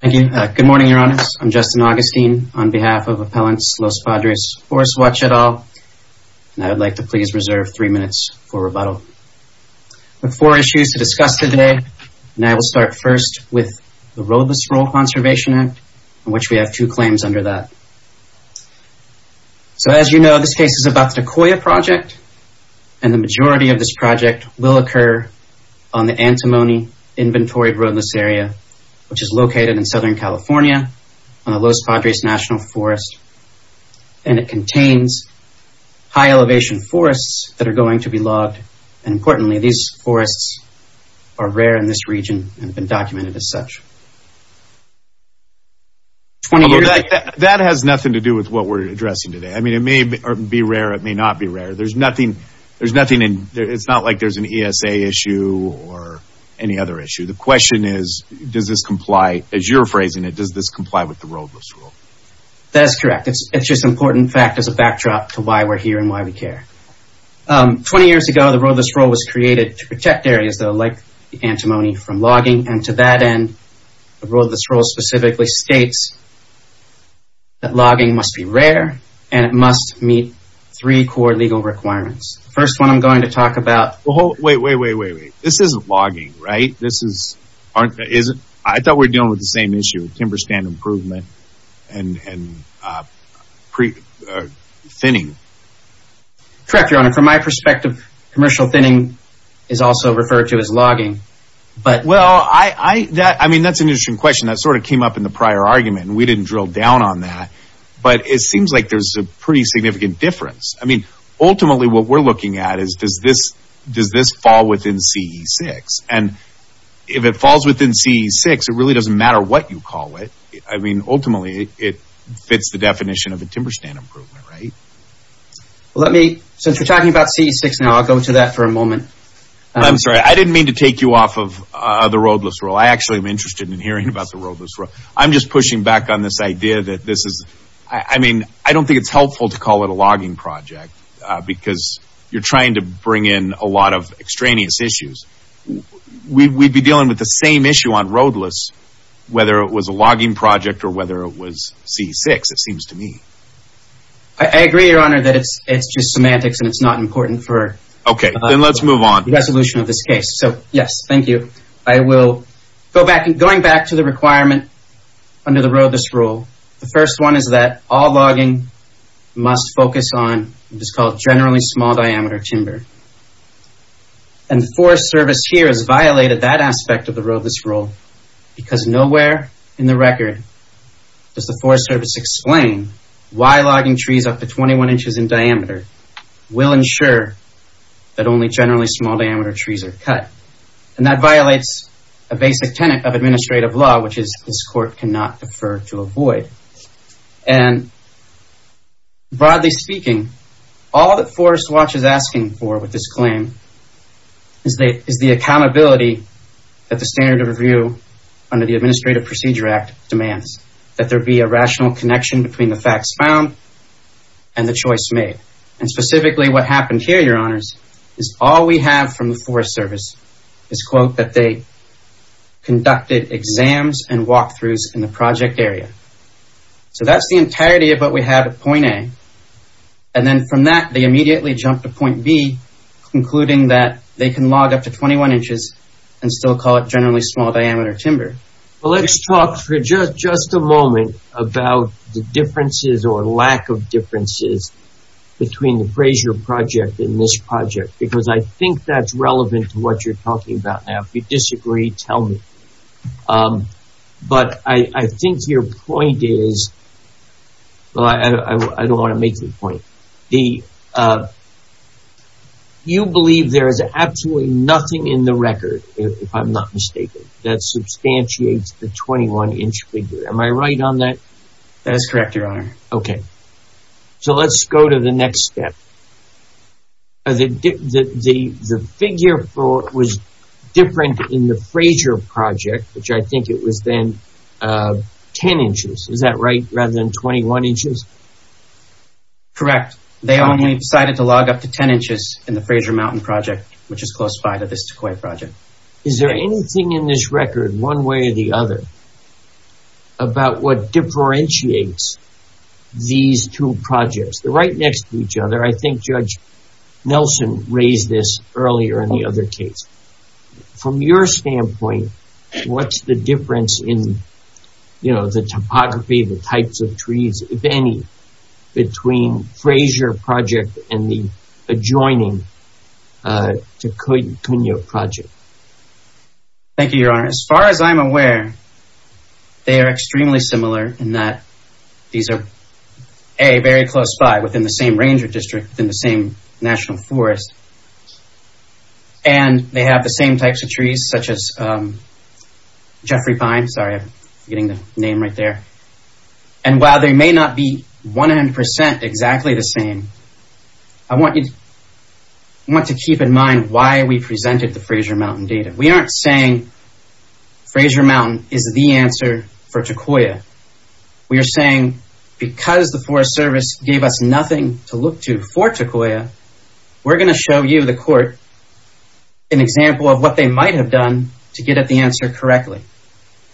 Thank you. Good morning, Your Honors. I'm Justin Augustine on behalf of Appellants Los Padres Forestwatch et al. And I would like to please reserve three minutes for rebuttal. We have four issues to discuss today, and I will start first with the Roadless Rural Conservation Act, on which we have two claims under that. So as you know, this case is about the Decoyah Project, and the majority of this project will occur on the Antimony Inventory Roadless Area, which is located in Southern California on the Los Padres National Forest. And it contains high-elevation forests that are going to be logged. And importantly, these forests are rare in this region and have been documented as such. That has nothing to do with what we're addressing today. I mean, it may be rare. It may not be rare. There's nothing in – it's not like there's an ESA issue or any other issue. The question is, does this comply – as you're phrasing it, does this comply with the roadless rule? That's correct. It's just an important fact as a backdrop to why we're here and why we care. Twenty years ago, the roadless rule was created to protect areas that are like the antimony from logging. And to that end, the roadless rule specifically states that logging must be rare, and it must meet three core legal requirements. The first one I'm going to talk about – Wait, wait, wait, wait, wait. This isn't logging, right? I thought we were dealing with the same issue, timber stand improvement and thinning. Correct, Your Honor. From my perspective, commercial thinning is also referred to as logging. Well, I mean, that's an interesting question. That sort of came up in the prior argument, and we didn't drill down on that. But it seems like there's a pretty significant difference. I mean, ultimately, what we're looking at is, does this fall within CE6? And if it falls within CE6, it really doesn't matter what you call it. I mean, ultimately, it fits the definition of a timber stand improvement, right? Well, let me – since we're talking about CE6 now, I'll go to that for a moment. I'm sorry. I didn't mean to take you off of the roadless rule. I actually am interested in hearing about the roadless rule. I'm just pushing back on this idea that this is – I mean, I don't think it's helpful to call it a logging project because you're trying to bring in a lot of extraneous issues. We'd be dealing with the same issue on roadless, whether it was a logging project or whether it was CE6, it seems to me. I agree, Your Honor, that it's just semantics and it's not important for – Okay. Then let's move on. – the resolution of this case. So, yes, thank you. I will go back – going back to the requirement under the roadless rule. The first one is that all logging must focus on what is called generally small-diameter timber. And the Forest Service here has violated that aspect of the roadless rule because nowhere in the record does the Forest Service explain why logging trees up to 21 inches in diameter will ensure that only generally small-diameter trees are cut. And that violates a basic tenet of administrative law, which is this court cannot defer to avoid. And broadly speaking, all that Forest Watch is asking for with this claim is the accountability that the standard of review under the Administrative Procedure Act demands, that there be a rational connection between the facts found and the choice made. And specifically what happened here, Your Honors, is all we have from the Forest Service is, quote, that they conducted exams and walkthroughs in the project area. So that's the entirety of what we have at point A. And then from that, they immediately jumped to point B, concluding that they can log up to 21 inches and still call it generally small-diameter timber. Well, let's talk for just a moment about the differences or lack of differences between the Frayser project and this project, because I think that's relevant to what you're talking about now. If you disagree, tell me. But I think your point is, well, I don't want to make the point. You believe there is absolutely nothing in the record, if I'm not mistaken, that substantiates the 21-inch figure. Am I right on that? That is correct, Your Honor. Okay. So let's go to the next step. The figure was different in the Frayser project, which I think it was then 10 inches. Is that right, rather than 21 inches? Correct. They only decided to log up to 10 inches in the Frayser Mountain project, which is close by to this Tequoia project. Is there anything in this record, one way or the other, about what differentiates these two projects? They're right next to each other. I think Judge Nelson raised this earlier in the other case. From your standpoint, what's the difference in the topography, the types of trees, if any, between Frayser project and the adjoining Tequoia project? Thank you, Your Honor. As far as I'm aware, they are extremely similar in that these are, A, very close by, within the same ranger district, within the same national forest, and they have the same types of trees, such as Jeffrey Pine. Sorry, I'm forgetting the name right there. And while they may not be 100% exactly the same, I want you to keep in mind why we presented the Frayser Mountain data. We aren't saying Frayser Mountain is the answer for Tequoia. We are saying because the Forest Service gave us nothing to look to for Tequoia, we're going to show you, the court, an example of what they might have done to get at the answer correctly.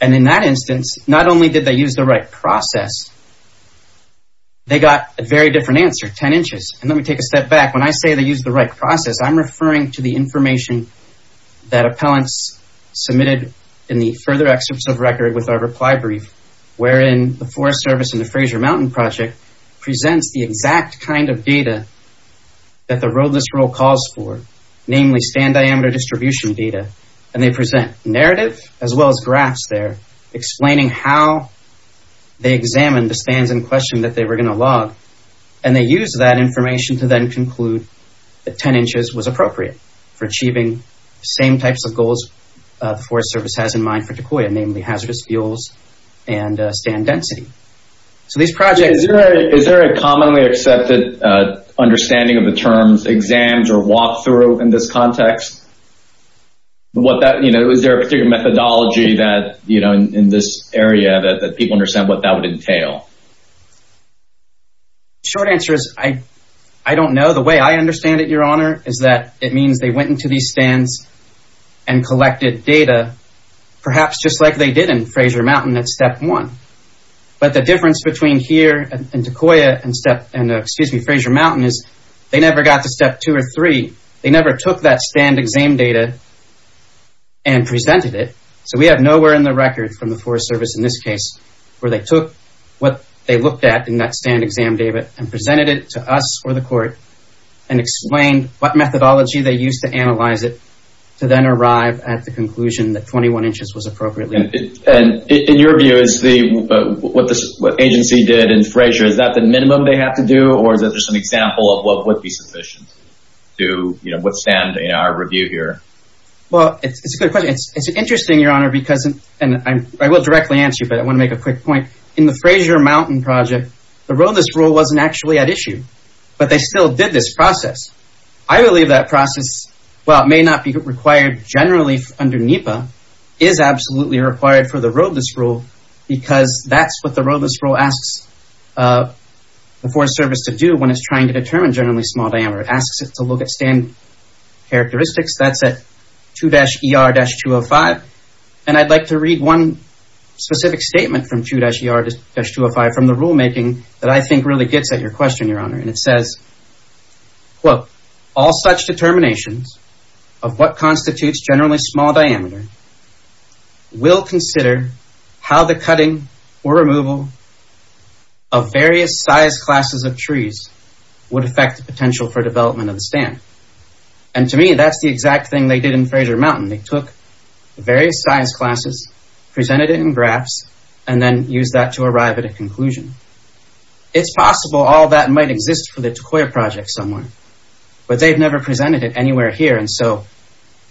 And in that instance, not only did they use the right process, they got a very different answer, 10 inches. And let me take a step back. When I say they used the right process, I'm referring to the information that appellants submitted in the further excerpts of record with our reply brief, wherein the Forest Service and the Frayser Mountain Project presents the exact kind of data that the road list rule calls for, namely stand diameter distribution data. And they present narrative as well as graphs there, explaining how they examined the stands in question that they were going to log. And they used that information to then conclude that 10 inches was appropriate for achieving the same types of goals the Forest Service has in mind for Tequoia, namely hazardous fuels and stand density. So these projects- Is there a commonly accepted understanding of the terms exams or walkthrough in this context? Is there a particular methodology in this area that people understand what that would entail? The short answer is I don't know. The way I understand it, Your Honor, is that it means they went into these stands and collected data, perhaps just like they did in Frayser Mountain at step one. But the difference between here in Tequoia and Frayser Mountain is they never got to step two or three. They never took that stand exam data and presented it. So we have nowhere in the record from the Forest Service in this case where they took what they looked at in that stand exam data and presented it to us or the court and explained what methodology they used to analyze it to then arrive at the conclusion that 21 inches was appropriate. And in your view, what the agency did in Frayser, is that the minimum they have to do or is that just an example of what would be sufficient to withstand our review here? Well, it's a good question. It's interesting, Your Honor, because, and I will directly answer you, but I want to make a quick point. In the Frayser Mountain project, the roadless rule wasn't actually at issue, but they still did this process. I believe that process, while it may not be required generally under NEPA, is absolutely required for the roadless rule because that's what the roadless rule asks the Forest Service to do when it's trying to determine generally small diameter. It asks it to look at stand characteristics. That's at 2-ER-205. And I'd like to read one specific statement from 2-ER-205 from the rulemaking that I think really gets at your question, Your Honor. And it says, quote, all such determinations of what constitutes generally small diameter will consider how the cutting or removal of various size classes of trees would affect the potential for development of the stand. And to me, that's the exact thing they did in Frayser Mountain. They took various size classes, presented it in graphs, and then used that to arrive at a conclusion. It's possible all that might exist for the Takoya project somewhere, but they've never presented it anywhere here. And so,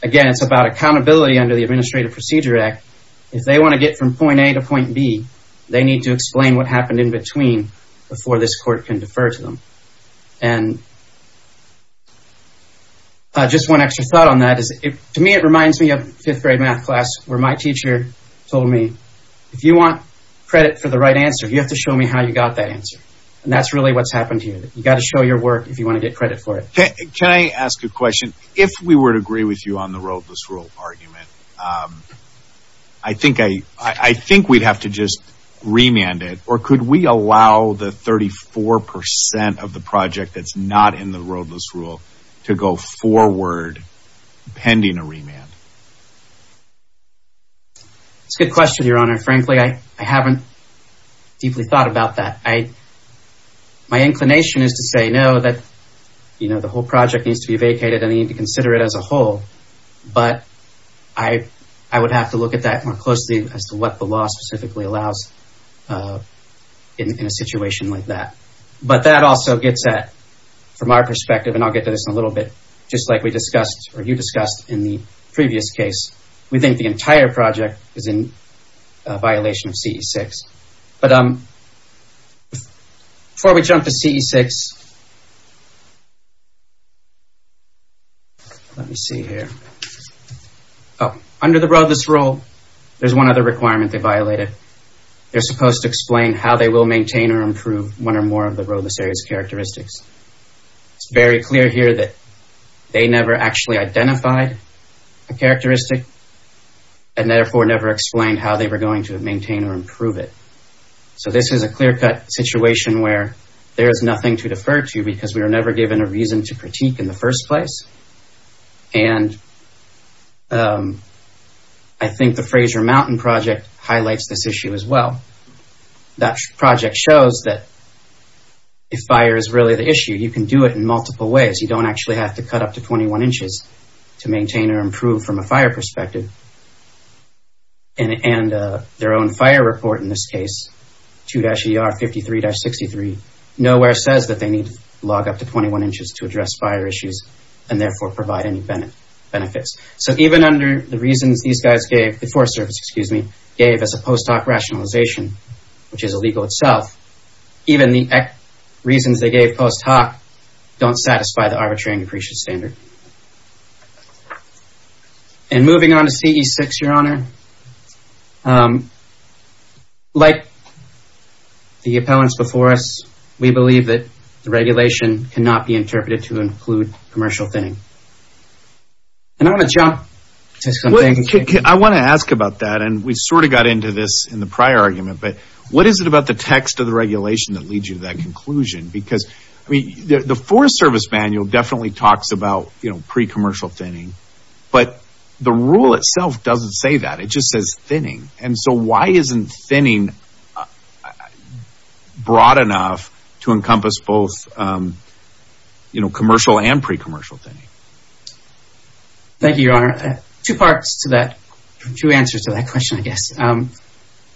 again, it's about accountability under the Administrative Procedure Act. If they want to get from point A to point B, they need to explain what happened in between before this court can defer to them. And just one extra thought on that is, to me, it reminds me of fifth-grade math class where my teacher told me, if you want credit for the right answer, you have to show me how you got that answer. And that's really what's happened here. You've got to show your work if you want to get credit for it. Can I ask a question? If we were to agree with you on the roadless rule argument, I think we'd have to just remand it. Or could we allow the 34% of the project that's not in the roadless rule to go forward pending a remand? It's a good question, Your Honor. Frankly, I haven't deeply thought about that. My inclination is to say no, that the whole project needs to be vacated and they need to consider it as a whole. But I would have to look at that more closely as to what the law specifically allows in a situation like that. But that also gets at, from our perspective, and I'll get to this in a little bit, just like we discussed or you discussed in the previous case, we think the entire project is in violation of CE6. But before we jump to CE6, let me see here. Under the roadless rule, there's one other requirement they violated. They're supposed to explain how they will maintain or improve one or more of the roadless area's characteristics. It's very clear here that they never actually identified a characteristic and therefore never explained how they were going to maintain or improve it. So this is a clear-cut situation where there is nothing to defer to because we were never given a reason to critique in the first place. And I think the Fraser Mountain project highlights this issue as well. That project shows that if fire is really the issue, you can do it in multiple ways. You don't actually have to cut up to 21 inches to maintain or improve from a fire perspective. And their own fire report in this case, 2-ER-53-63, nowhere says that they need to log up to 21 inches to address fire issues and therefore provide any benefits. So even under the reasons these guys gave, the Forest Service, excuse me, gave as a post hoc rationalization, which is illegal itself, even the reasons they gave post hoc don't satisfy the arbitrary and depreciate standard. And moving on to CE-6, Your Honor, like the appellants before us, we believe that the regulation cannot be interpreted to include a commercial thing. And I want to jump to something. I want to ask about that, and we sort of got into this in the prior argument, but what is it about the text of the regulation that leads you to that conclusion? Because the Forest Service manual definitely talks about pre-commercial thinning, but the rule itself doesn't say that. It just says thinning. And so why isn't thinning broad enough to encompass both commercial and pre-commercial thinning? Thank you, Your Honor. Two parts to that, two answers to that question, I guess.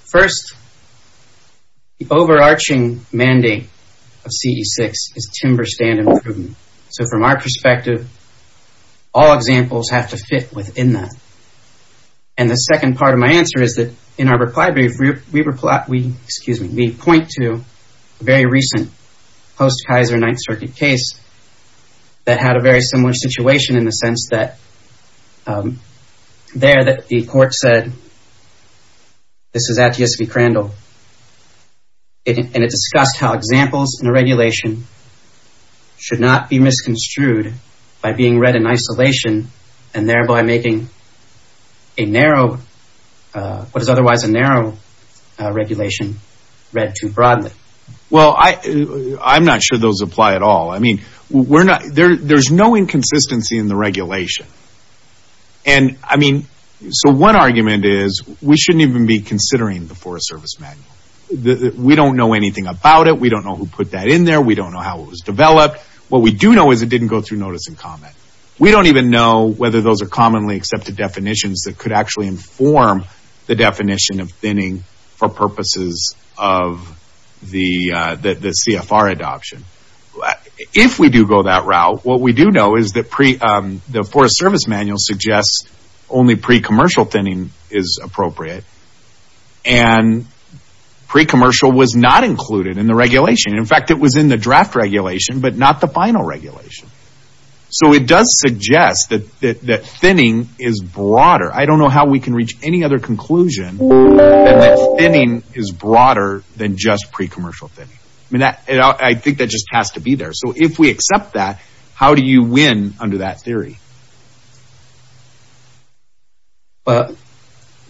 First, the overarching mandate of CE-6 is timber stand improvement. So from our perspective, all examples have to fit within that. And the second part of my answer is that in our reply brief, we point to a very recent post-Kaiser Ninth Circuit case that had a very similar situation in the sense that there the court said, this is at ESV Crandall, and it discussed how examples in a regulation should not be misconstrued by being read in isolation and thereby making a narrow, what is otherwise a narrow regulation, read too broadly. Well, I'm not sure those apply at all. I mean, there's no inconsistency in the regulation. And I mean, so one argument is we shouldn't even be considering the Forest Service manual. We don't know anything about it. We don't know who put that in there. We don't know how it was developed. What we do know is it didn't go through notice and comment. We don't even know whether those are commonly accepted definitions that could actually inform the definition of thinning for purposes of the CFR adoption. If we do go that route, what we do know is that the Forest Service manual suggests only pre-commercial thinning is appropriate. And pre-commercial was not included in the regulation. In fact, it was in the draft regulation, but not the final regulation. So it does suggest that thinning is broader. I don't know how we can reach any other conclusion than that thinning is broader than just pre-commercial thinning. I mean, I think that just has to be there. So if we accept that, how do you win under that theory? I'm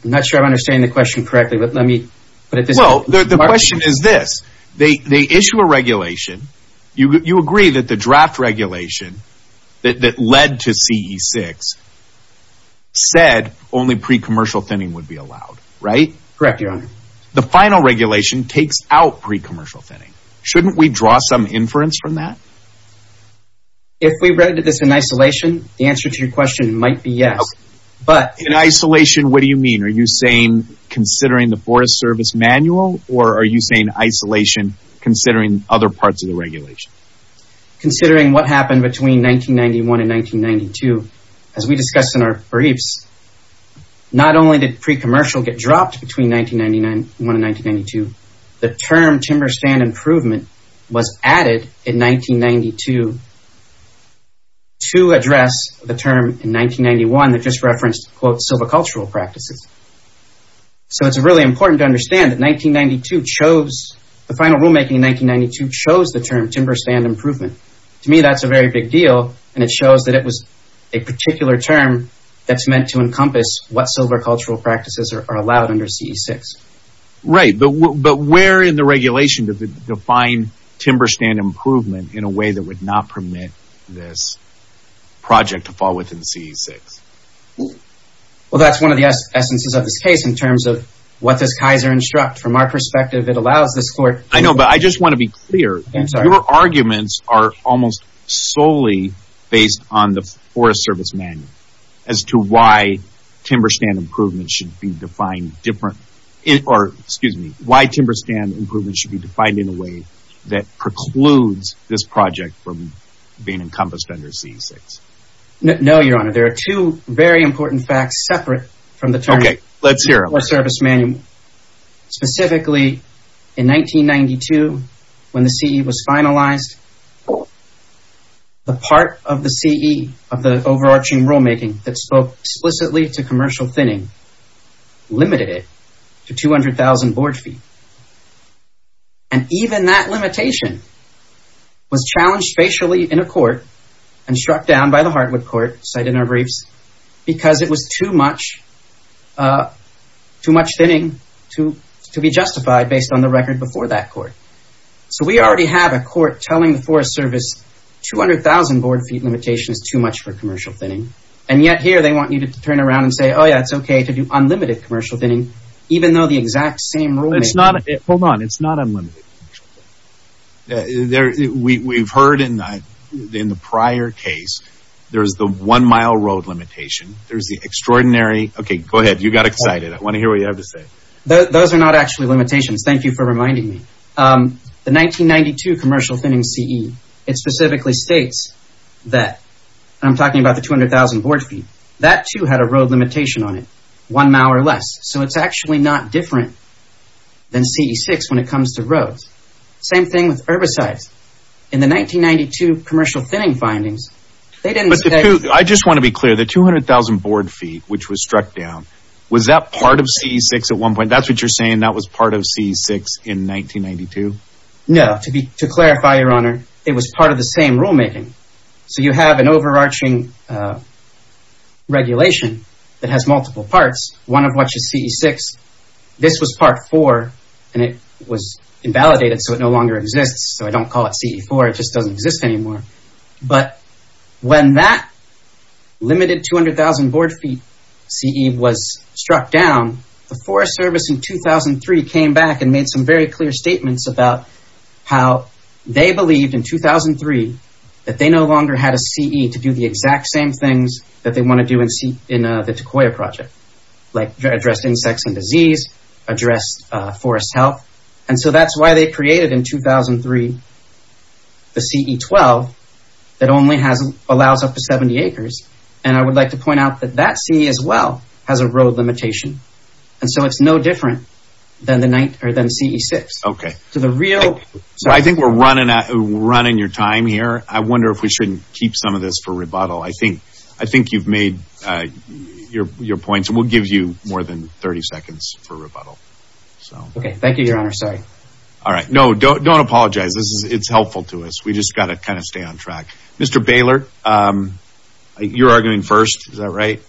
not sure I'm understanding the question correctly, but let me put it this way. Well, the question is this. They issue a regulation. You agree that the draft regulation that led to CE-6 said only pre-commercial thinning would be allowed, right? Correct, Your Honor. The final regulation takes out pre-commercial thinning. Shouldn't we draw some inference from that? If we read this in isolation, the answer to your question might be yes. In isolation, what do you mean? Are you saying considering the Forest Service manual, or are you saying isolation, considering other parts of the regulation? Considering what happened between 1991 and 1992, as we discussed in our briefs, not only did pre-commercial get dropped between 1991 and 1992, the term timber stand improvement was added in 1992 to address the term in 1991 that just referenced, quote, silvicultural practices. So it's really important to understand that 1992 chose, the final rulemaking in 1992 chose the term timber stand improvement. To me, that's a very big deal, and it shows that it was a particular term that's meant to encompass what silvicultural practices are allowed under CE-6. Right, but where in the regulation does it define timber stand improvement in a way that would not permit this project to fall within CE-6? Well, that's one of the essences of this case in terms of what does Kaiser instruct. From our perspective, it allows this court... I know, but I just want to be clear. I'm sorry. Your arguments are almost solely based on the Forest Service Manual as to why timber stand improvement should be defined different, or, excuse me, why timber stand improvement should be defined in a way that precludes this project from being encompassed under CE-6. No, Your Honor, there are two very important facts separate from the term. Okay, let's hear them. Specifically, in 1992, when the CE was finalized, the part of the CE of the overarching rulemaking that spoke explicitly to commercial thinning limited it to 200,000 board feet. And even that limitation was challenged facially in a court and struck down by the Hartwood Court, cited in our briefs, because it was too much thinning to be justified based on the record before that court. So we already have a court telling the Forest Service 200,000 board feet limitation is too much for commercial thinning, and yet here they want you to turn around and say, oh, yeah, it's okay to do unlimited commercial thinning, even though the exact same rule... Hold on. It's not unlimited. We've heard in the prior case there's the one-mile road limitation. There's the extraordinary... Okay, go ahead. You got excited. I want to hear what you have to say. Those are not actually limitations. Thank you for reminding me. The 1992 commercial thinning CE, it specifically states that, and I'm talking about the 200,000 board feet, that, too, had a road limitation on it, one mile or less. So it's actually not different than CE-6 when it comes to roads. Same thing with herbicides. In the 1992 commercial thinning findings, they didn't... I just want to be clear. The 200,000 board feet, which was struck down, was that part of CE-6 at one point? That's what you're saying that was part of CE-6 in 1992? No. To clarify, Your Honor, it was part of the same rulemaking. So you have an overarching regulation that has multiple parts, one of which is CE-6. This was part four, and it was invalidated, so it no longer exists. So I don't call it CE-4. It just doesn't exist anymore. But when that limited 200,000 board feet CE was struck down, the Forest Service in 2003 came back and made some very clear statements about how they believed in 2003 that they no longer had a CE to do the exact same things that they want to do in the Tequoia Project, like address insects and disease, address forest health. And so that's why they created in 2003 the CE-12 that only allows up to 70 acres. And I would like to point out that that CE as well has a road limitation. And so it's no different than the CE-6. Okay. I think we're running your time here. I wonder if we shouldn't keep some of this for rebuttal. I think you've made your points, and we'll give you more than 30 seconds for rebuttal. Okay, thank you, Your Honor. Sorry. All right. No, don't apologize. It's helpful to us. We just got to kind of stay on track. Mr. Baylor, you're arguing first. Is that right?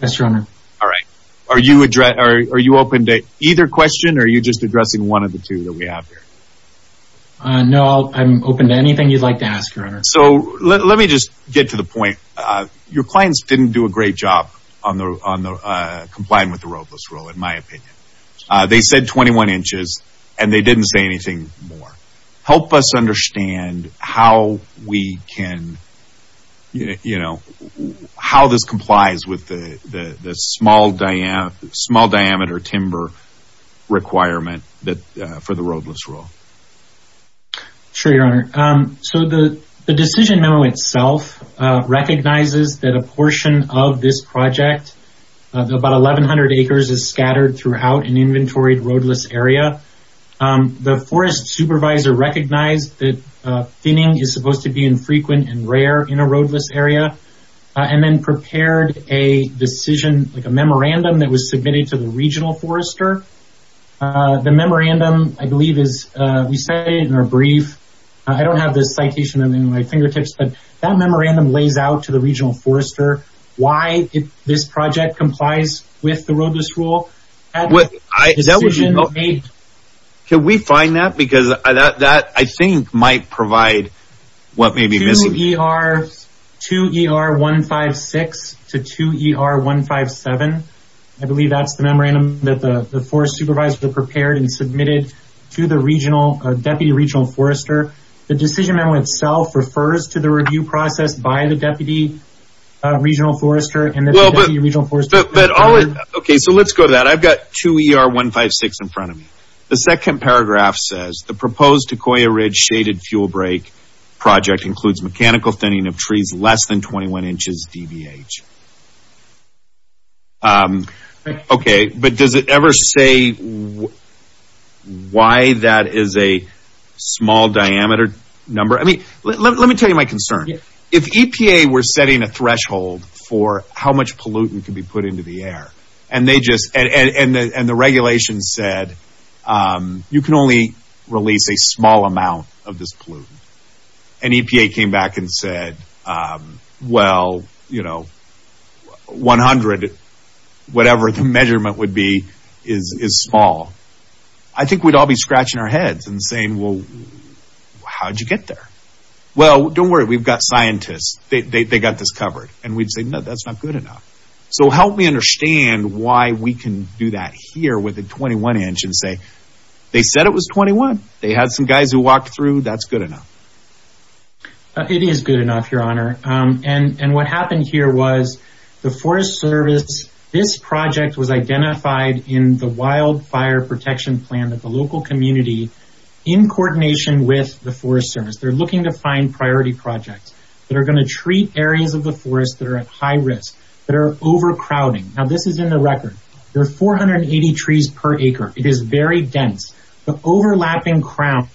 Yes, Your Honor. All right. Are you open to either question, or are you just addressing one of the two that we have here? No, I'm open to anything you'd like to ask, Your Honor. So let me just get to the point. Your clients didn't do a great job on complying with the roadless rule, in my opinion. They said 21 inches, and they didn't say anything more. Help us understand how this complies with the small diameter timber requirement for the roadless rule. Sure, Your Honor. So the decision memo itself recognizes that a portion of this project, about 1,100 acres, is scattered throughout an inventoried roadless area. The forest supervisor recognized that thinning is supposed to be infrequent and rare in a roadless area, and then prepared a decision, like a memorandum, that was submitted to the regional forester. The memorandum, I believe, is we say in our brief, I don't have this citation in my fingertips, but that memorandum lays out to the regional forester why this project complies with the roadless rule. Can we find that? Because that, I think, might provide what may be missing. 2ER156 to 2ER157, I believe that's the memorandum that the forest supervisor prepared and submitted to the deputy regional forester. The decision memo itself refers to the review process by the deputy regional forester. Okay, so let's go to that. I've got 2ER156 in front of me. The second paragraph says, the proposed Sequoia Ridge shaded fuel break project includes mechanical thinning of trees less than 21 inches DBH. Okay, but does it ever say why that is a small diameter number? I mean, let me tell you my concern. If EPA were setting a threshold for how much pollutant could be put into the air and the regulations said you can only release a small amount of this pollutant and EPA came back and said, well, 100, whatever the measurement would be, is small, I think we'd all be scratching our heads and saying, well, how did you get there? Well, don't worry, we've got scientists. They got this covered. And we'd say, no, that's not good enough. So help me understand why we can do that here with a 21 inch and say, they said it was 21. They had some guys who walked through, that's good enough. It is good enough, your honor. And what happened here was the Forest Service, this project was identified in the wildfire protection plan that the local community in coordination with the Forest Service, they're looking to find priority projects that are going to treat areas of the forest that are at high risk, that are overcrowding. Now this is in the record. There are 480 trees per acre. It is very dense. The overlapping crowns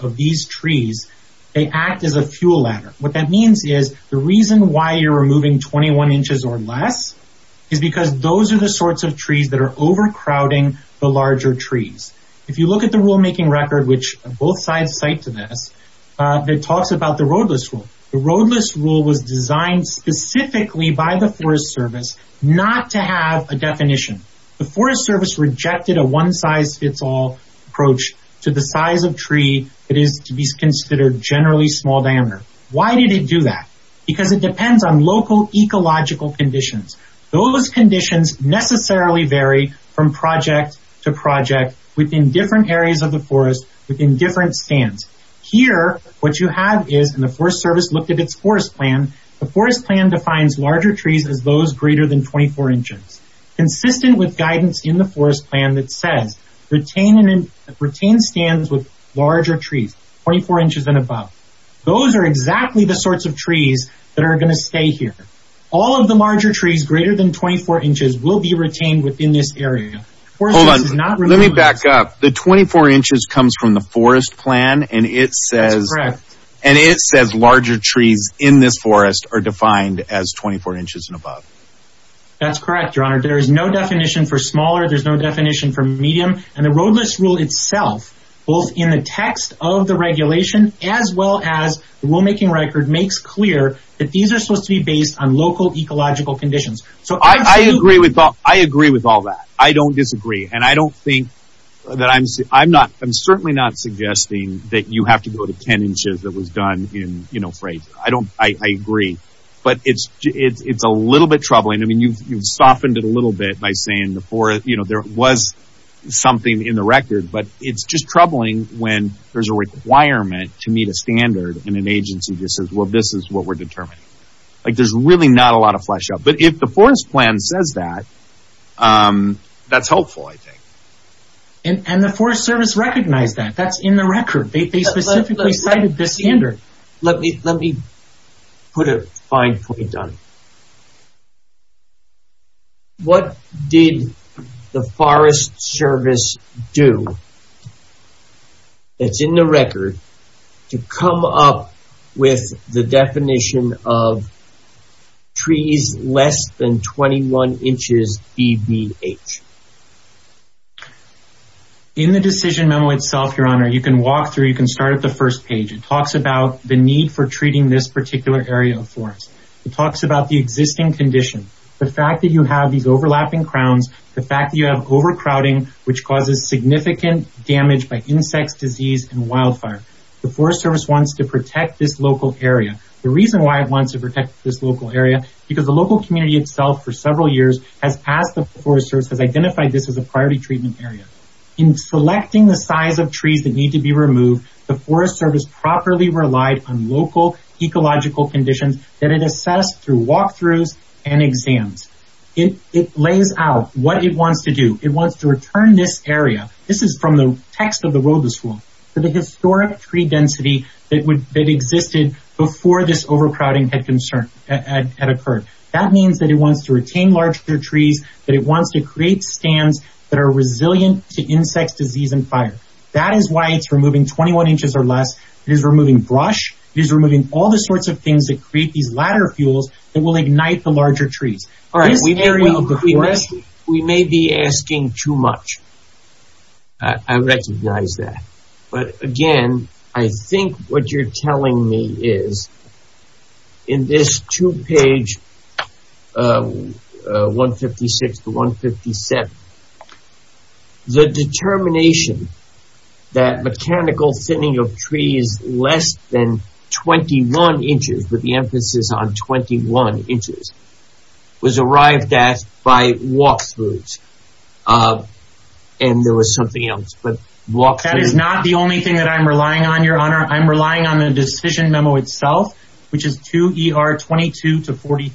of these trees, they act as a fuel ladder. What that means is the reason why you're removing 21 inches or less is because those are the sorts of trees that are overcrowding the larger trees. If you look at the rulemaking record, which both sides cite to this, it talks about the roadless rule. The roadless rule was designed specifically by the Forest Service not to have a definition. The Forest Service rejected a one size fits all approach to the size of tree that is to be considered generally small diameter. Why did it do that? Because it depends on local ecological conditions. Those conditions necessarily vary from project to project within different areas of the forest, within different stands. Here what you have is, and the Forest Service looked at its forest plan, the forest plan defines larger trees as those greater than 24 inches. Consistent with guidance in the forest plan that says, retain stands with larger trees, 24 inches and above. Those are exactly the sorts of trees that are going to stay here. All of the larger trees greater than 24 inches will be retained within this area. Hold on, let me back up. The 24 inches comes from the forest plan and it says larger trees in this forest are defined as 24 inches and above. That's correct, your honor. There is no definition for smaller, there's no definition for medium. And the roadless rule itself, both in the text of the regulation, as well as the rule making record, makes clear that these are supposed to be based on local ecological conditions. I agree with all that. I don't disagree. I'm certainly not suggesting that you have to go to 10 inches that was done in Fraser. I agree. But it's a little bit troubling. You've softened it a little bit by saying there was something in the record, but it's just troubling when there's a requirement to meet a standard in an agency that says this is what we're determining. There's really not a lot of flesh out. But if the forest plan says that, that's helpful, I think. And the Forest Service recognized that. That's in the record. They specifically cited this standard. Let me put a fine point on it. What did the Forest Service do that's in the record to come up with the definition of trees less than 21 inches DBH? In the decision memo itself, Your Honor, you can walk through, you can start at the first page. It talks about the need for treating this particular area of forest. It talks about the existing condition. The fact that you have these overlapping crowns, the fact that you have overcrowding, which causes significant damage by insects, disease, and wildfire. The Forest Service wants to protect this local area. The reason why it wants to protect this local area, because the local community itself, for several years, has asked the Forest Service, has identified this as a priority treatment area. In selecting the size of trees that need to be removed, the Forest Service properly relied on local ecological conditions that it assessed through walkthroughs and exams. It lays out what it wants to do. It wants to return this area. This is from the text of the Robust Rule, the historic tree density that existed before this overcrowding had occurred. That means that it wants to retain larger trees, that it wants to create stands that are resilient to insects, disease, and fire. That is why it's removing 21 inches or less. It is removing brush. It is removing all the sorts of things that create these ladder fuels that will ignite the larger trees. We may be asking too much. I recognize that. But again, I think what you're telling me is, in this two-page 156-157, the determination that mechanical thinning of trees less than 21 inches, with the emphasis on 21 inches, was arrived at by walkthroughs. And there was something else. That is not the only thing that I'm relying on, Your Honor. I'm relying on the decision memo itself, which is 2 ER 22-43.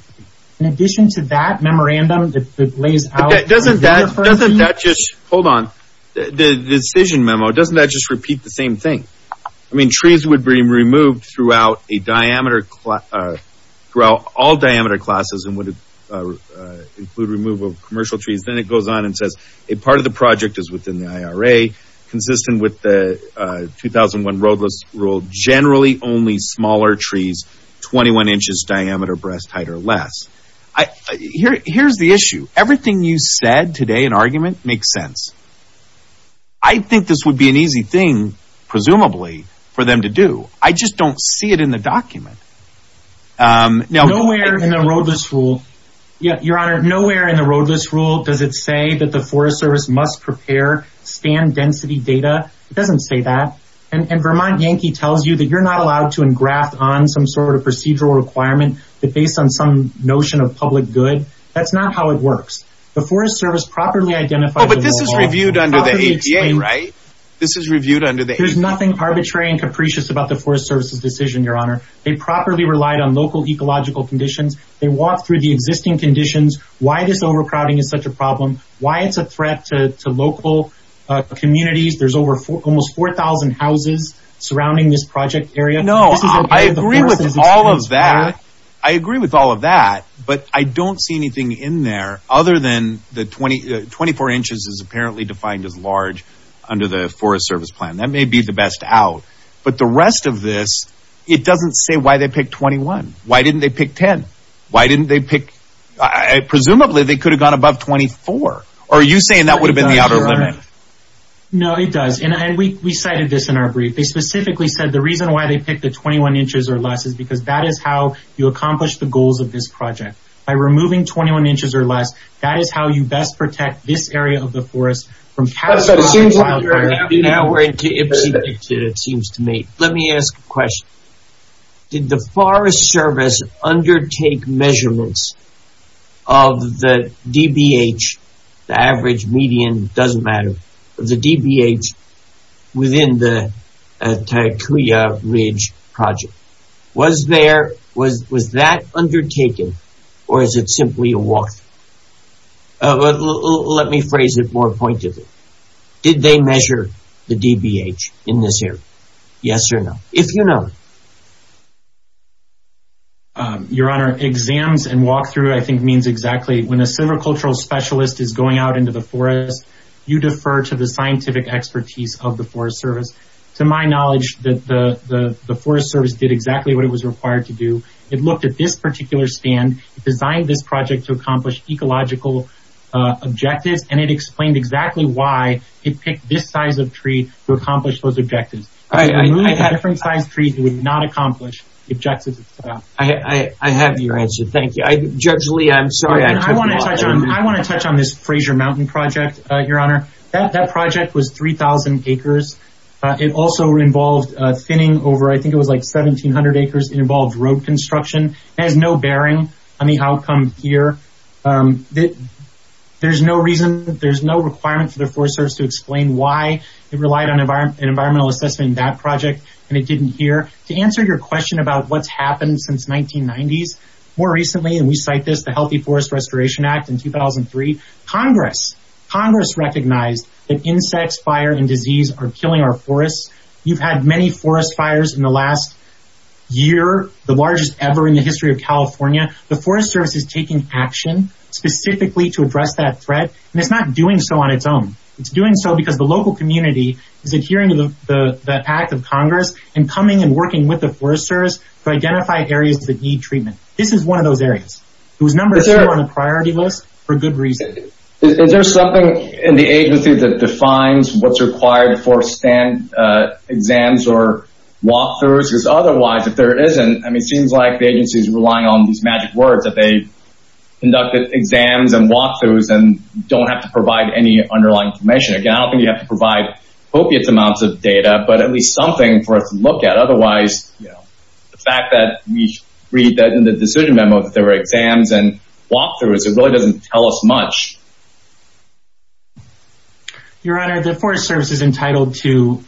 In addition to that memorandum that lays out... Doesn't that just... Hold on. The decision memo, doesn't that just repeat the same thing? I mean, trees would be removed throughout all diameter classes and would include removal of commercial trees. Then it goes on and says, a part of the project is within the IRA, consistent with the 2001 Roadless Rule, generally only smaller trees, 21 inches diameter, breast height or less. Here's the issue. Everything you said today in argument makes sense. I think this would be an easy thing, presumably, for them to do. I just don't see it in the document. Nowhere in the Roadless Rule... Your Honor, nowhere in the Roadless Rule does it say that the Forest Service must prepare stand density data. It doesn't say that. And Vermont Yankee tells you that you're not allowed to engraft on some sort of procedural requirement based on some notion of public good. That's not how it works. The Forest Service properly identified... Oh, but this is reviewed under the APA, right? This is reviewed under the APA. There's nothing arbitrary and capricious about the Forest Service's decision, Your Honor. They properly relied on local ecological conditions. They walked through the existing conditions, why this overcrowding is such a problem, why it's a threat to local communities. There's almost 4,000 houses surrounding this project area. No, I agree with all of that. I agree with all of that, but I don't see anything in there other than the 24 inches is apparently defined as large under the Forest Service plan. That may be the best out. But the rest of this, it doesn't say why they picked 21. Why didn't they pick 10? Why didn't they pick... Presumably, they could have gone above 24. Are you saying that would have been the outer limit? No, it does. We cited this in our brief. They specifically said the reason why they picked the 21 inches or less is because that is how you accomplish the goals of this project. By removing 21 inches or less, that is how you best protect this area of the forest from catastrophic wildfires. It seems to me... Let me ask a question. Did the Forest Service undertake measurements of the DBH, the average, median, it doesn't matter, of the DBH within the Taekuya Ridge project? Was that undertaken or is it simply a walkthrough? Let me phrase it more pointedly. Did they measure the DBH in this area? Yes or no? If you know. Your Honor, exams and walkthrough, I think, means exactly. When a silvicultural specialist is going out into the forest, you defer to the scientific expertise of the Forest Service. To my knowledge, the Forest Service did exactly what it was required to do. It looked at this particular stand, designed this project to accomplish ecological objectives, and it explained exactly why it picked this size of tree to accomplish those objectives. A different size tree would not accomplish the objectives. I have your answer. Thank you. Judge Lee, I'm sorry. I want to touch on this Fraser Mountain project, Your Honor. That project was 3,000 acres. It also involved thinning over, I think, it was like 1,700 acres. It involved road construction. It has no bearing on the outcome here. There's no reason, there's no requirement for the Forest Service to explain why it relied on an environmental assessment in that project, and it didn't here. To answer your question about what's happened since the 1990s, more recently, and we cite this, the Healthy Forest Restoration Act in 2003, Congress recognized that insects, fire, and disease are killing our forests. You've had many forest fires in the last year, the largest ever in the history of California. The Forest Service is taking action specifically to address that threat, and it's not doing so on its own. It's doing so because the local community is adhering to the act of Congress and coming and working with the Forest Service to identify areas that need treatment. This is one of those areas. It was number two on the priority list for good reason. Is there something in the agency that defines what's required for exams or walk-throughs? Because otherwise, if there isn't, it seems like the agency is relying on these magic words that they conducted exams and walk-throughs and don't have to provide any underlying information. Again, I don't think you have to provide opiate amounts of data, but at least something for us to look at. Otherwise, the fact that we read that in the decision memo that there were exams and walk-throughs, it really doesn't tell us much. Your Honor, the Forest Service is entitled to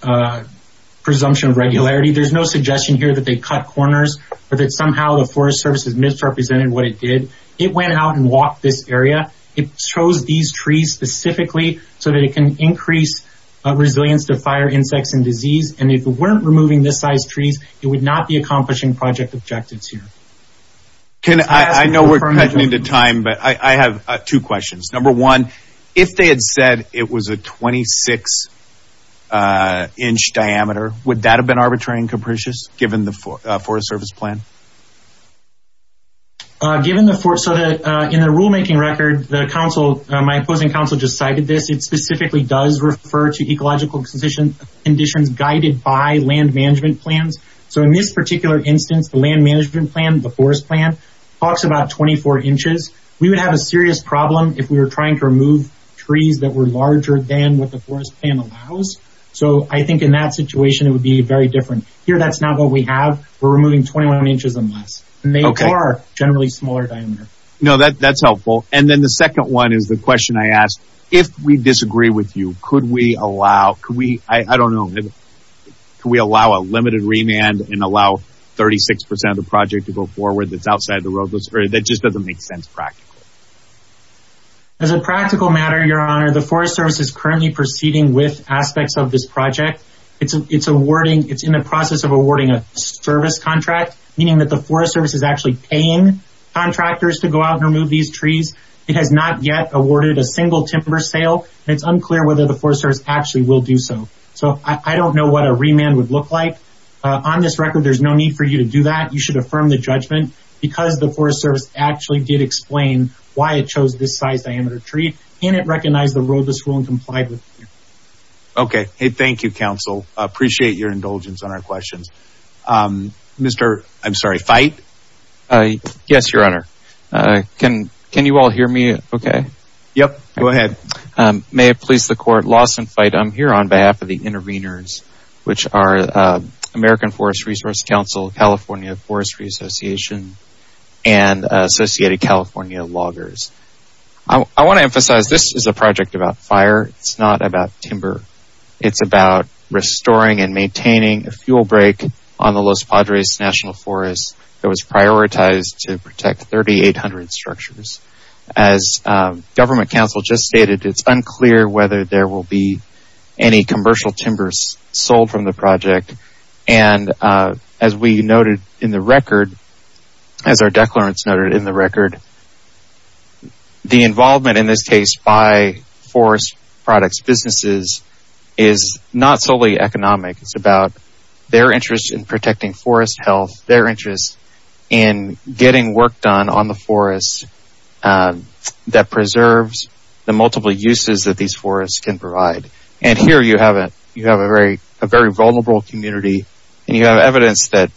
presumption of regularity. There's no suggestion here that they cut corners or that somehow the Forest Service has misrepresented what it did. It went out and walked this area. It chose these trees specifically so that it can increase resilience to fire, insects, and disease. And if it weren't removing this size trees, it would not be accomplishing project objectives here. I know we're cutting into time, but I have two questions. Number one, if they had said it was a 26-inch diameter, would that have been arbitrary and capricious given the Forest Service plan? In the rulemaking record, my opposing counsel just cited this. It specifically does refer to ecological conditions guided by land management plans. So in this particular instance, the land management plan, the forest plan, talks about 24 inches. We would have a serious problem if we were trying to remove trees that were larger than what the forest plan allows. So I think in that situation, it would be very different. Here, that's not what we have. We're removing 21 inches or less. They are generally smaller in diameter. That's helpful. And then the second one is the question I asked. If we disagree with you, could we allow a limited remand and allow 36% of the project to go forward that's outside the road? That just doesn't make sense practically. As a practical matter, Your Honor, the Forest Service is currently proceeding with aspects of this project. It's in the process of awarding a service contract, meaning that the Forest Service is actually paying contractors to go out and remove these trees. It has not yet awarded a single timber sale, and it's unclear whether the Forest Service actually will do so. So I don't know what a remand would look like. On this record, there's no need for you to do that. You should affirm the judgment because the Forest Service actually did explain why it chose this size diameter tree, and it recognized the roadless rule and complied with it. Okay. Hey, thank you, Counsel. I appreciate your indulgence on our questions. Mr. I'm sorry, Fite? Yes, Your Honor. Can you all hear me okay? Yep. Go ahead. May it please the Court, Lawson Fite. I'm here on behalf of the interveners, which are American Forest Resource Council, California Forestry Association, and Associated California Loggers. I want to emphasize this is a project about fire. It's not about timber. It's about restoring and maintaining a fuel break on the Los Padres National Forest that was prioritized to protect 3,800 structures. As Government Counsel just stated, it's unclear whether there will be any commercial timbers sold from the project, and as we noted in the record, as our declarants noted in the record, the involvement in this case by forest products businesses is not solely economic. It's about their interest in protecting forest health, their interest in getting work done on the forest that preserves the multiple uses that these forests can provide. And here you have a very vulnerable community, and you have evidence that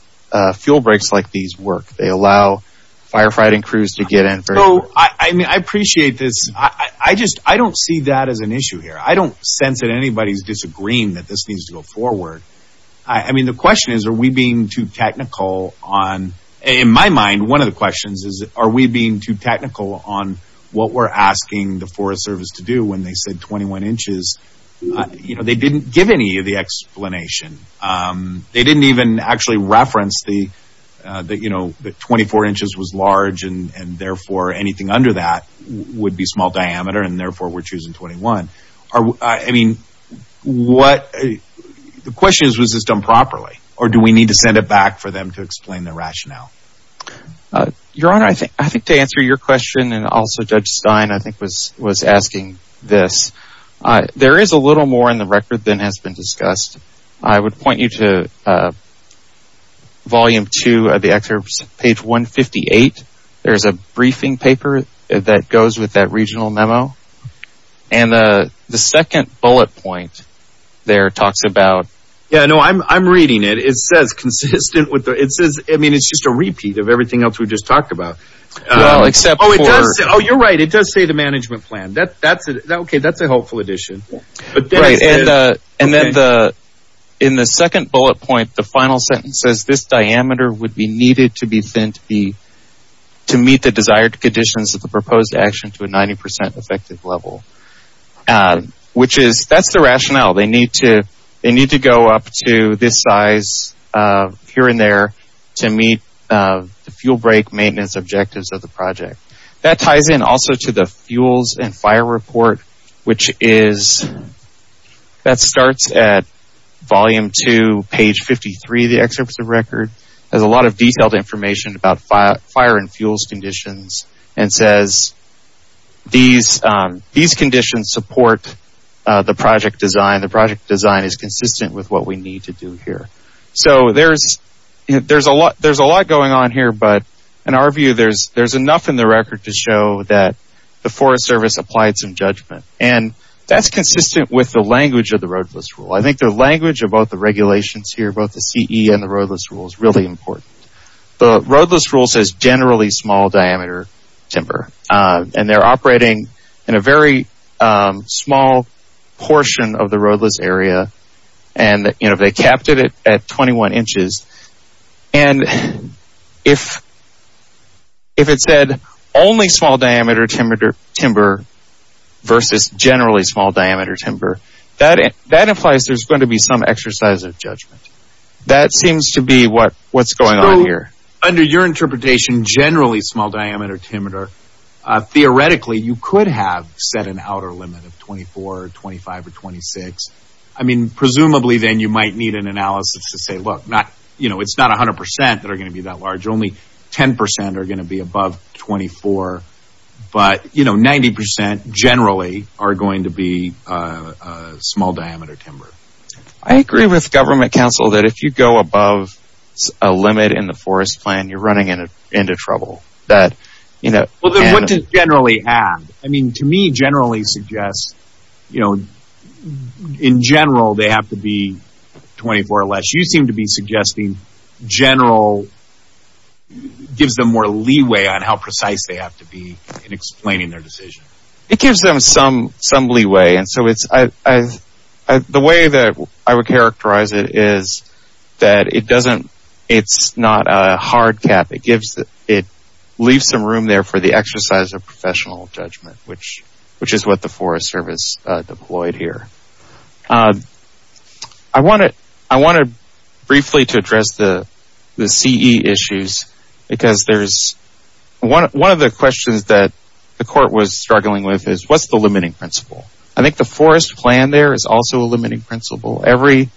fuel breaks like these work. They allow firefighting crews to get in. I appreciate this. I don't see that as an issue here. I don't sense that anybody's disagreeing that this needs to go forward. I mean, the question is, are we being too technical on... In my mind, one of the questions is, are we being too technical on what we're asking the Forest Service to do when they said 21 inches? They didn't give any of the explanation. They didn't even actually reference the, you know, that 24 inches was large, and therefore anything under that would be small diameter, and therefore we're choosing 21. I mean, what... The question is, was this done properly, or do we need to send it back for them to explain the rationale? Your Honor, I think to answer your question, and also Judge Stein, I think, was asking this, there is a little more in the record than has been discussed. I would point you to volume 2 of the excerpt, page 158. There's a briefing paper that goes with that regional memo, and the second bullet point there talks about... Yeah, no, I'm reading it. It says consistent with the... I mean, it's just a repeat of everything else we just talked about. Well, except for... Oh, you're right. It does say the management plan. That's a helpful addition. And then in the second bullet point, the final sentence says this diameter would be needed to be sent to meet the desired conditions of the proposed action to a 90% effective level, which is... That's the rationale. They need to go up to this size here and there to meet the fuel break maintenance objectives of the project. That ties in also to the fuels and fire report, which is... That starts at volume 2, page 53 of the excerpt of the record. There's a lot of detailed information about fire and fuels conditions and says these conditions support the project design. The project design is consistent with what we need to do here. So there's a lot going on here, but in our view, there's enough in the record to show that the Forest Service applied some judgment, and that's consistent with the language of the roadless rule. I think the language of both the regulations here, both the CE and the roadless rule, is really important. The roadless rule says generally small diameter timber, and they're operating in a very small portion of the roadless area, and they capped it at 21 inches. And if it said only small diameter timber versus generally small diameter timber, that implies there's going to be some exercise of judgment. That seems to be what's going on here. So under your interpretation, generally small diameter timber, theoretically you could have set an outer limit of 24, 25, or 26. I mean, presumably then you might need an analysis to say, look, it's not 100% that are going to be that large. Only 10% are going to be above 24. But 90% generally are going to be small diameter timber. I agree with government counsel that if you go above a limit in the forest plan, you're running into trouble. Well, then what does generally add? I mean, to me generally suggests in general they have to be 24 or less. You seem to be suggesting general gives them more leeway on how precise they have to be in explaining their decision. It gives them some leeway. And so the way that I would characterize it is that it doesn't – it's not a hard cap. It leaves some room there for the exercise of professional judgment, which is what the Forest Service deployed here. I wanted briefly to address the CE issues because there's – one of the questions that the court was struggling with is what's the limiting principle? I think the forest plan there is also a limiting principle. Every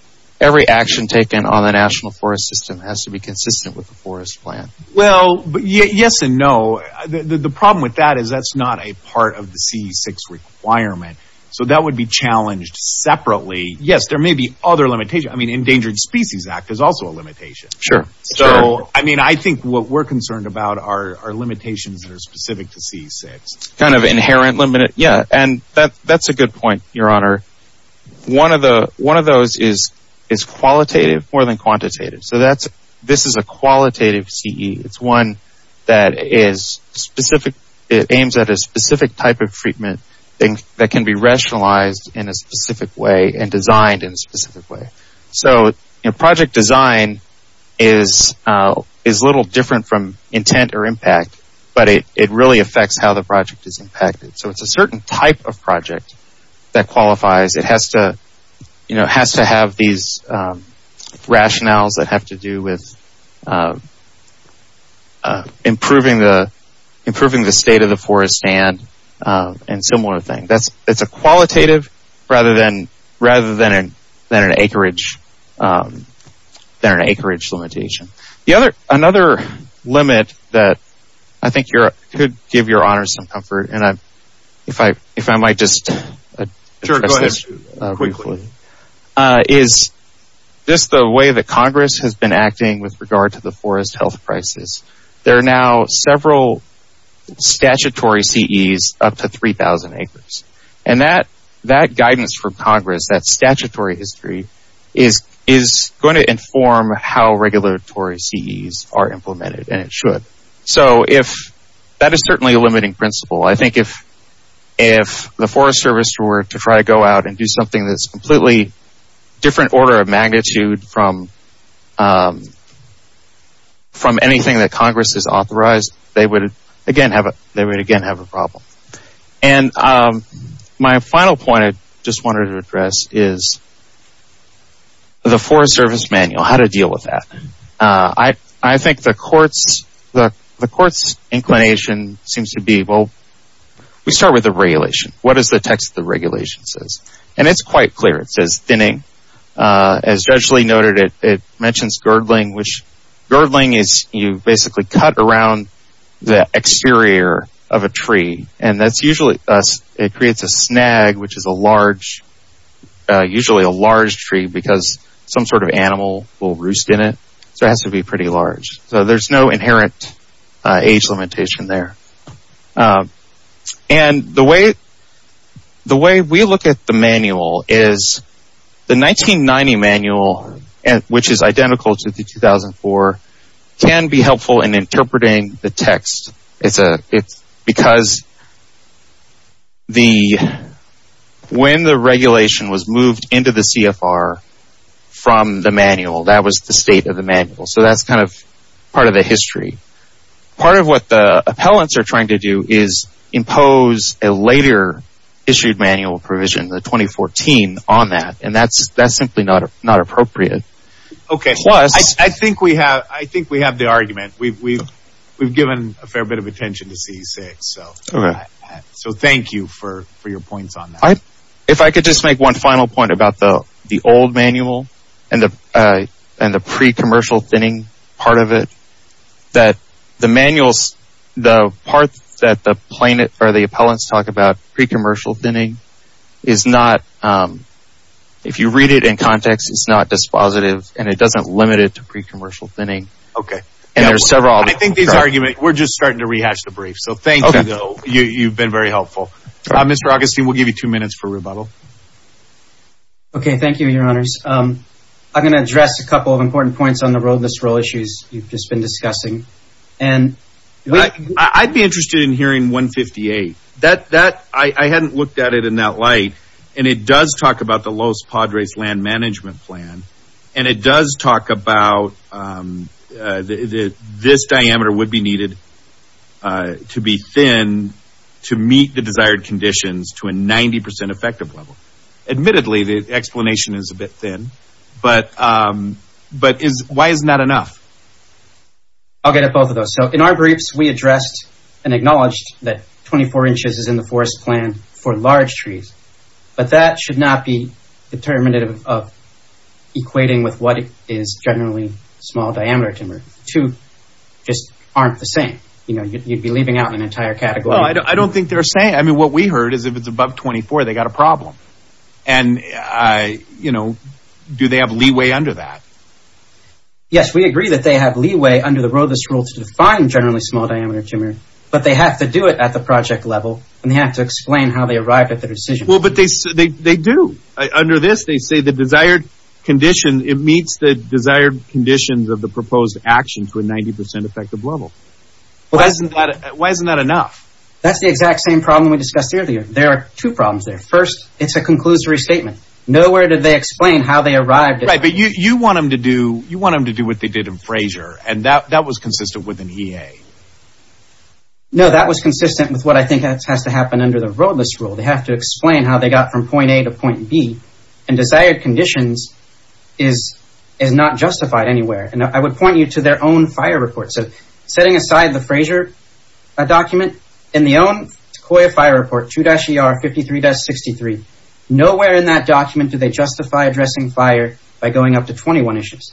action taken on the national forest system has to be consistent with the forest plan. Well, yes and no. The problem with that is that's not a part of the CE-6 requirement. So that would be challenged separately. Yes, there may be other limitations. I mean, Endangered Species Act is also a limitation. Sure. So, I mean, I think what we're concerned about are limitations that are specific to CE-6. Kind of inherent limit – yeah, and that's a good point, Your Honor. One of those is qualitative more than quantitative. So that's – this is a qualitative CE. It's one that is specific. It aims at a specific type of treatment that can be rationalized in a specific way and designed in a specific way. So project design is a little different from intent or impact, but it really affects how the project is impacted. So it's a certain type of project that qualifies. It has to have these rationales that have to do with improving the state of the forest and similar things. It's a qualitative rather than an acreage limitation. Another limit that I think could give Your Honor some comfort, and if I might just address this briefly, is just the way that Congress has been acting with regard to the forest health crisis. There are now several statutory CEs up to 3,000 acres. And that guidance from Congress, that statutory history, is going to inform how regulatory CEs are implemented, and it should. So if – that is certainly a limiting principle. I think if the Forest Service were to try to go out and do something that's a completely different order of magnitude from anything that Congress has authorized, they would again have a problem. And my final point I just wanted to address is the Forest Service manual, how to deal with that. I think the court's inclination seems to be, well, we start with the regulation. What is the text of the regulation says? And it's quite clear. It says thinning. As Judge Lee noted, it mentions girdling, which girdling is you basically cut around the exterior of a tree. And that's usually – it creates a snag, which is a large – so it has to be pretty large. So there's no inherent age limitation there. And the way we look at the manual is the 1990 manual, which is identical to the 2004, can be helpful in interpreting the text. It's because the – when the regulation was moved into the CFR from the manual, that was the state of the manual. So that's kind of part of the history. Part of what the appellants are trying to do is impose a later issued manual provision, the 2014, on that. And that's simply not appropriate. Okay. I think we have the argument. We've given a fair bit of attention to C6. So thank you for your points on that. If I could just make one final point about the old manual and the pre-commercial thinning part of it, that the manuals – the part that the plain – or the appellants talk about pre-commercial thinning is not – if you read it in context, it's not dispositive, and it doesn't limit it to pre-commercial thinning. Okay. And there's several other – I think these arguments – we're just starting to rehash the brief. So thank you, though. You've been very helpful. Mr. Augustine, we'll give you two minutes for rebuttal. Okay. Thank you, Your Honors. I'm going to address a couple of important points on the road list role issues you've just been discussing. I'd be interested in hearing 158. I hadn't looked at it in that light, and it does talk about the Los Padres Land Management Plan, and it does talk about this diameter would be needed to be thin to meet the desired conditions to a 90% effective level. Admittedly, the explanation is a bit thin, but why is not enough? I'll get at both of those. So in our briefs, we addressed and acknowledged that 24 inches is in the forest plan for large trees, but that should not be determinative of equating with what is generally small diameter timber. The two just aren't the same. You'd be leaving out an entire category. I don't think they're the same. I mean, what we heard is if it's above 24, they've got a problem, and do they have leeway under that? Yes, we agree that they have leeway under the road list rule to define generally small diameter timber, but they have to do it at the project level, and they have to explain how they arrived at the decision. Well, but they do. Under this, they say the desired condition, it meets the desired conditions of the proposed action to a 90% effective level. Why isn't that enough? That's the exact same problem we discussed earlier. There are two problems there. First, it's a conclusory statement. Nowhere did they explain how they arrived. Right, but you want them to do what they did in Frayser, and that was consistent with an EA. No, that was consistent with what I think has to happen under the road list rule. They have to explain how they got from point A to point B, and desired conditions is not justified anywhere, and I would point you to their own fire report. So setting aside the Frayser document, in the own Sequoia fire report, 2-ER-53-63, nowhere in that document do they justify addressing fire by going up to 21 inches.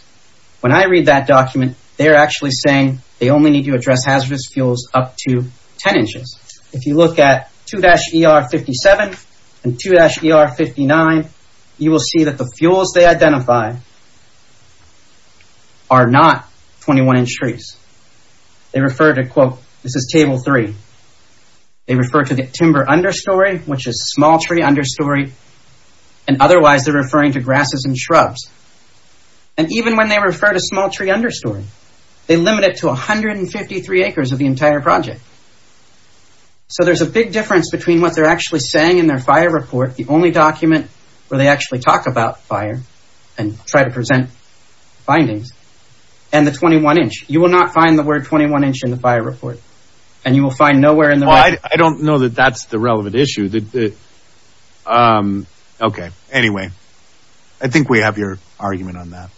When I read that document, they are actually saying they only need to address hazardous fuels up to 10 inches. If you look at 2-ER-57 and 2-ER-59, you will see that the fuels they identify are not 21 inch trees. They refer to, quote, this is table three. They refer to the timber understory, which is small tree understory, and otherwise they're referring to grasses and shrubs. And even when they refer to small tree understory, they limit it to 153 acres of the entire project. So there's a big difference between what they're actually saying in their fire report, the only document where they actually talk about fire and try to present findings, and the 21 inch. You will not find the word 21 inch in the fire report, and you will find nowhere in the record. Well, I don't know that that's the relevant issue. Okay, anyway, I think we have your argument on that.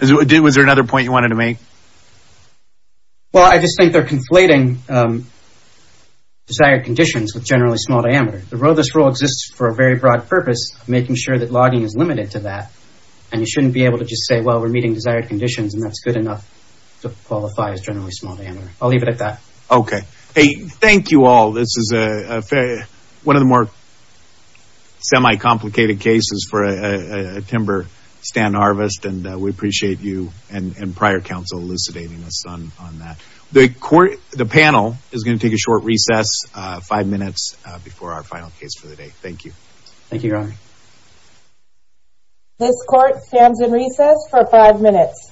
Was there another point you wanted to make? Well, I just think they're conflating desired conditions with generally small diameter. This rule exists for a very broad purpose of making sure that logging is limited to that, and you shouldn't be able to just say, well, we're meeting desired conditions, and that's good enough to qualify as generally small diameter. I'll leave it at that. Okay. Hey, thank you all. This is one of the more semi-complicated cases for a timber stand harvest, and we appreciate you and prior counsel elucidating us on that. The panel is going to take a short recess, five minutes before our final case for the day. Thank you. Thank you, Your Honor. This court stands in recess for five minutes.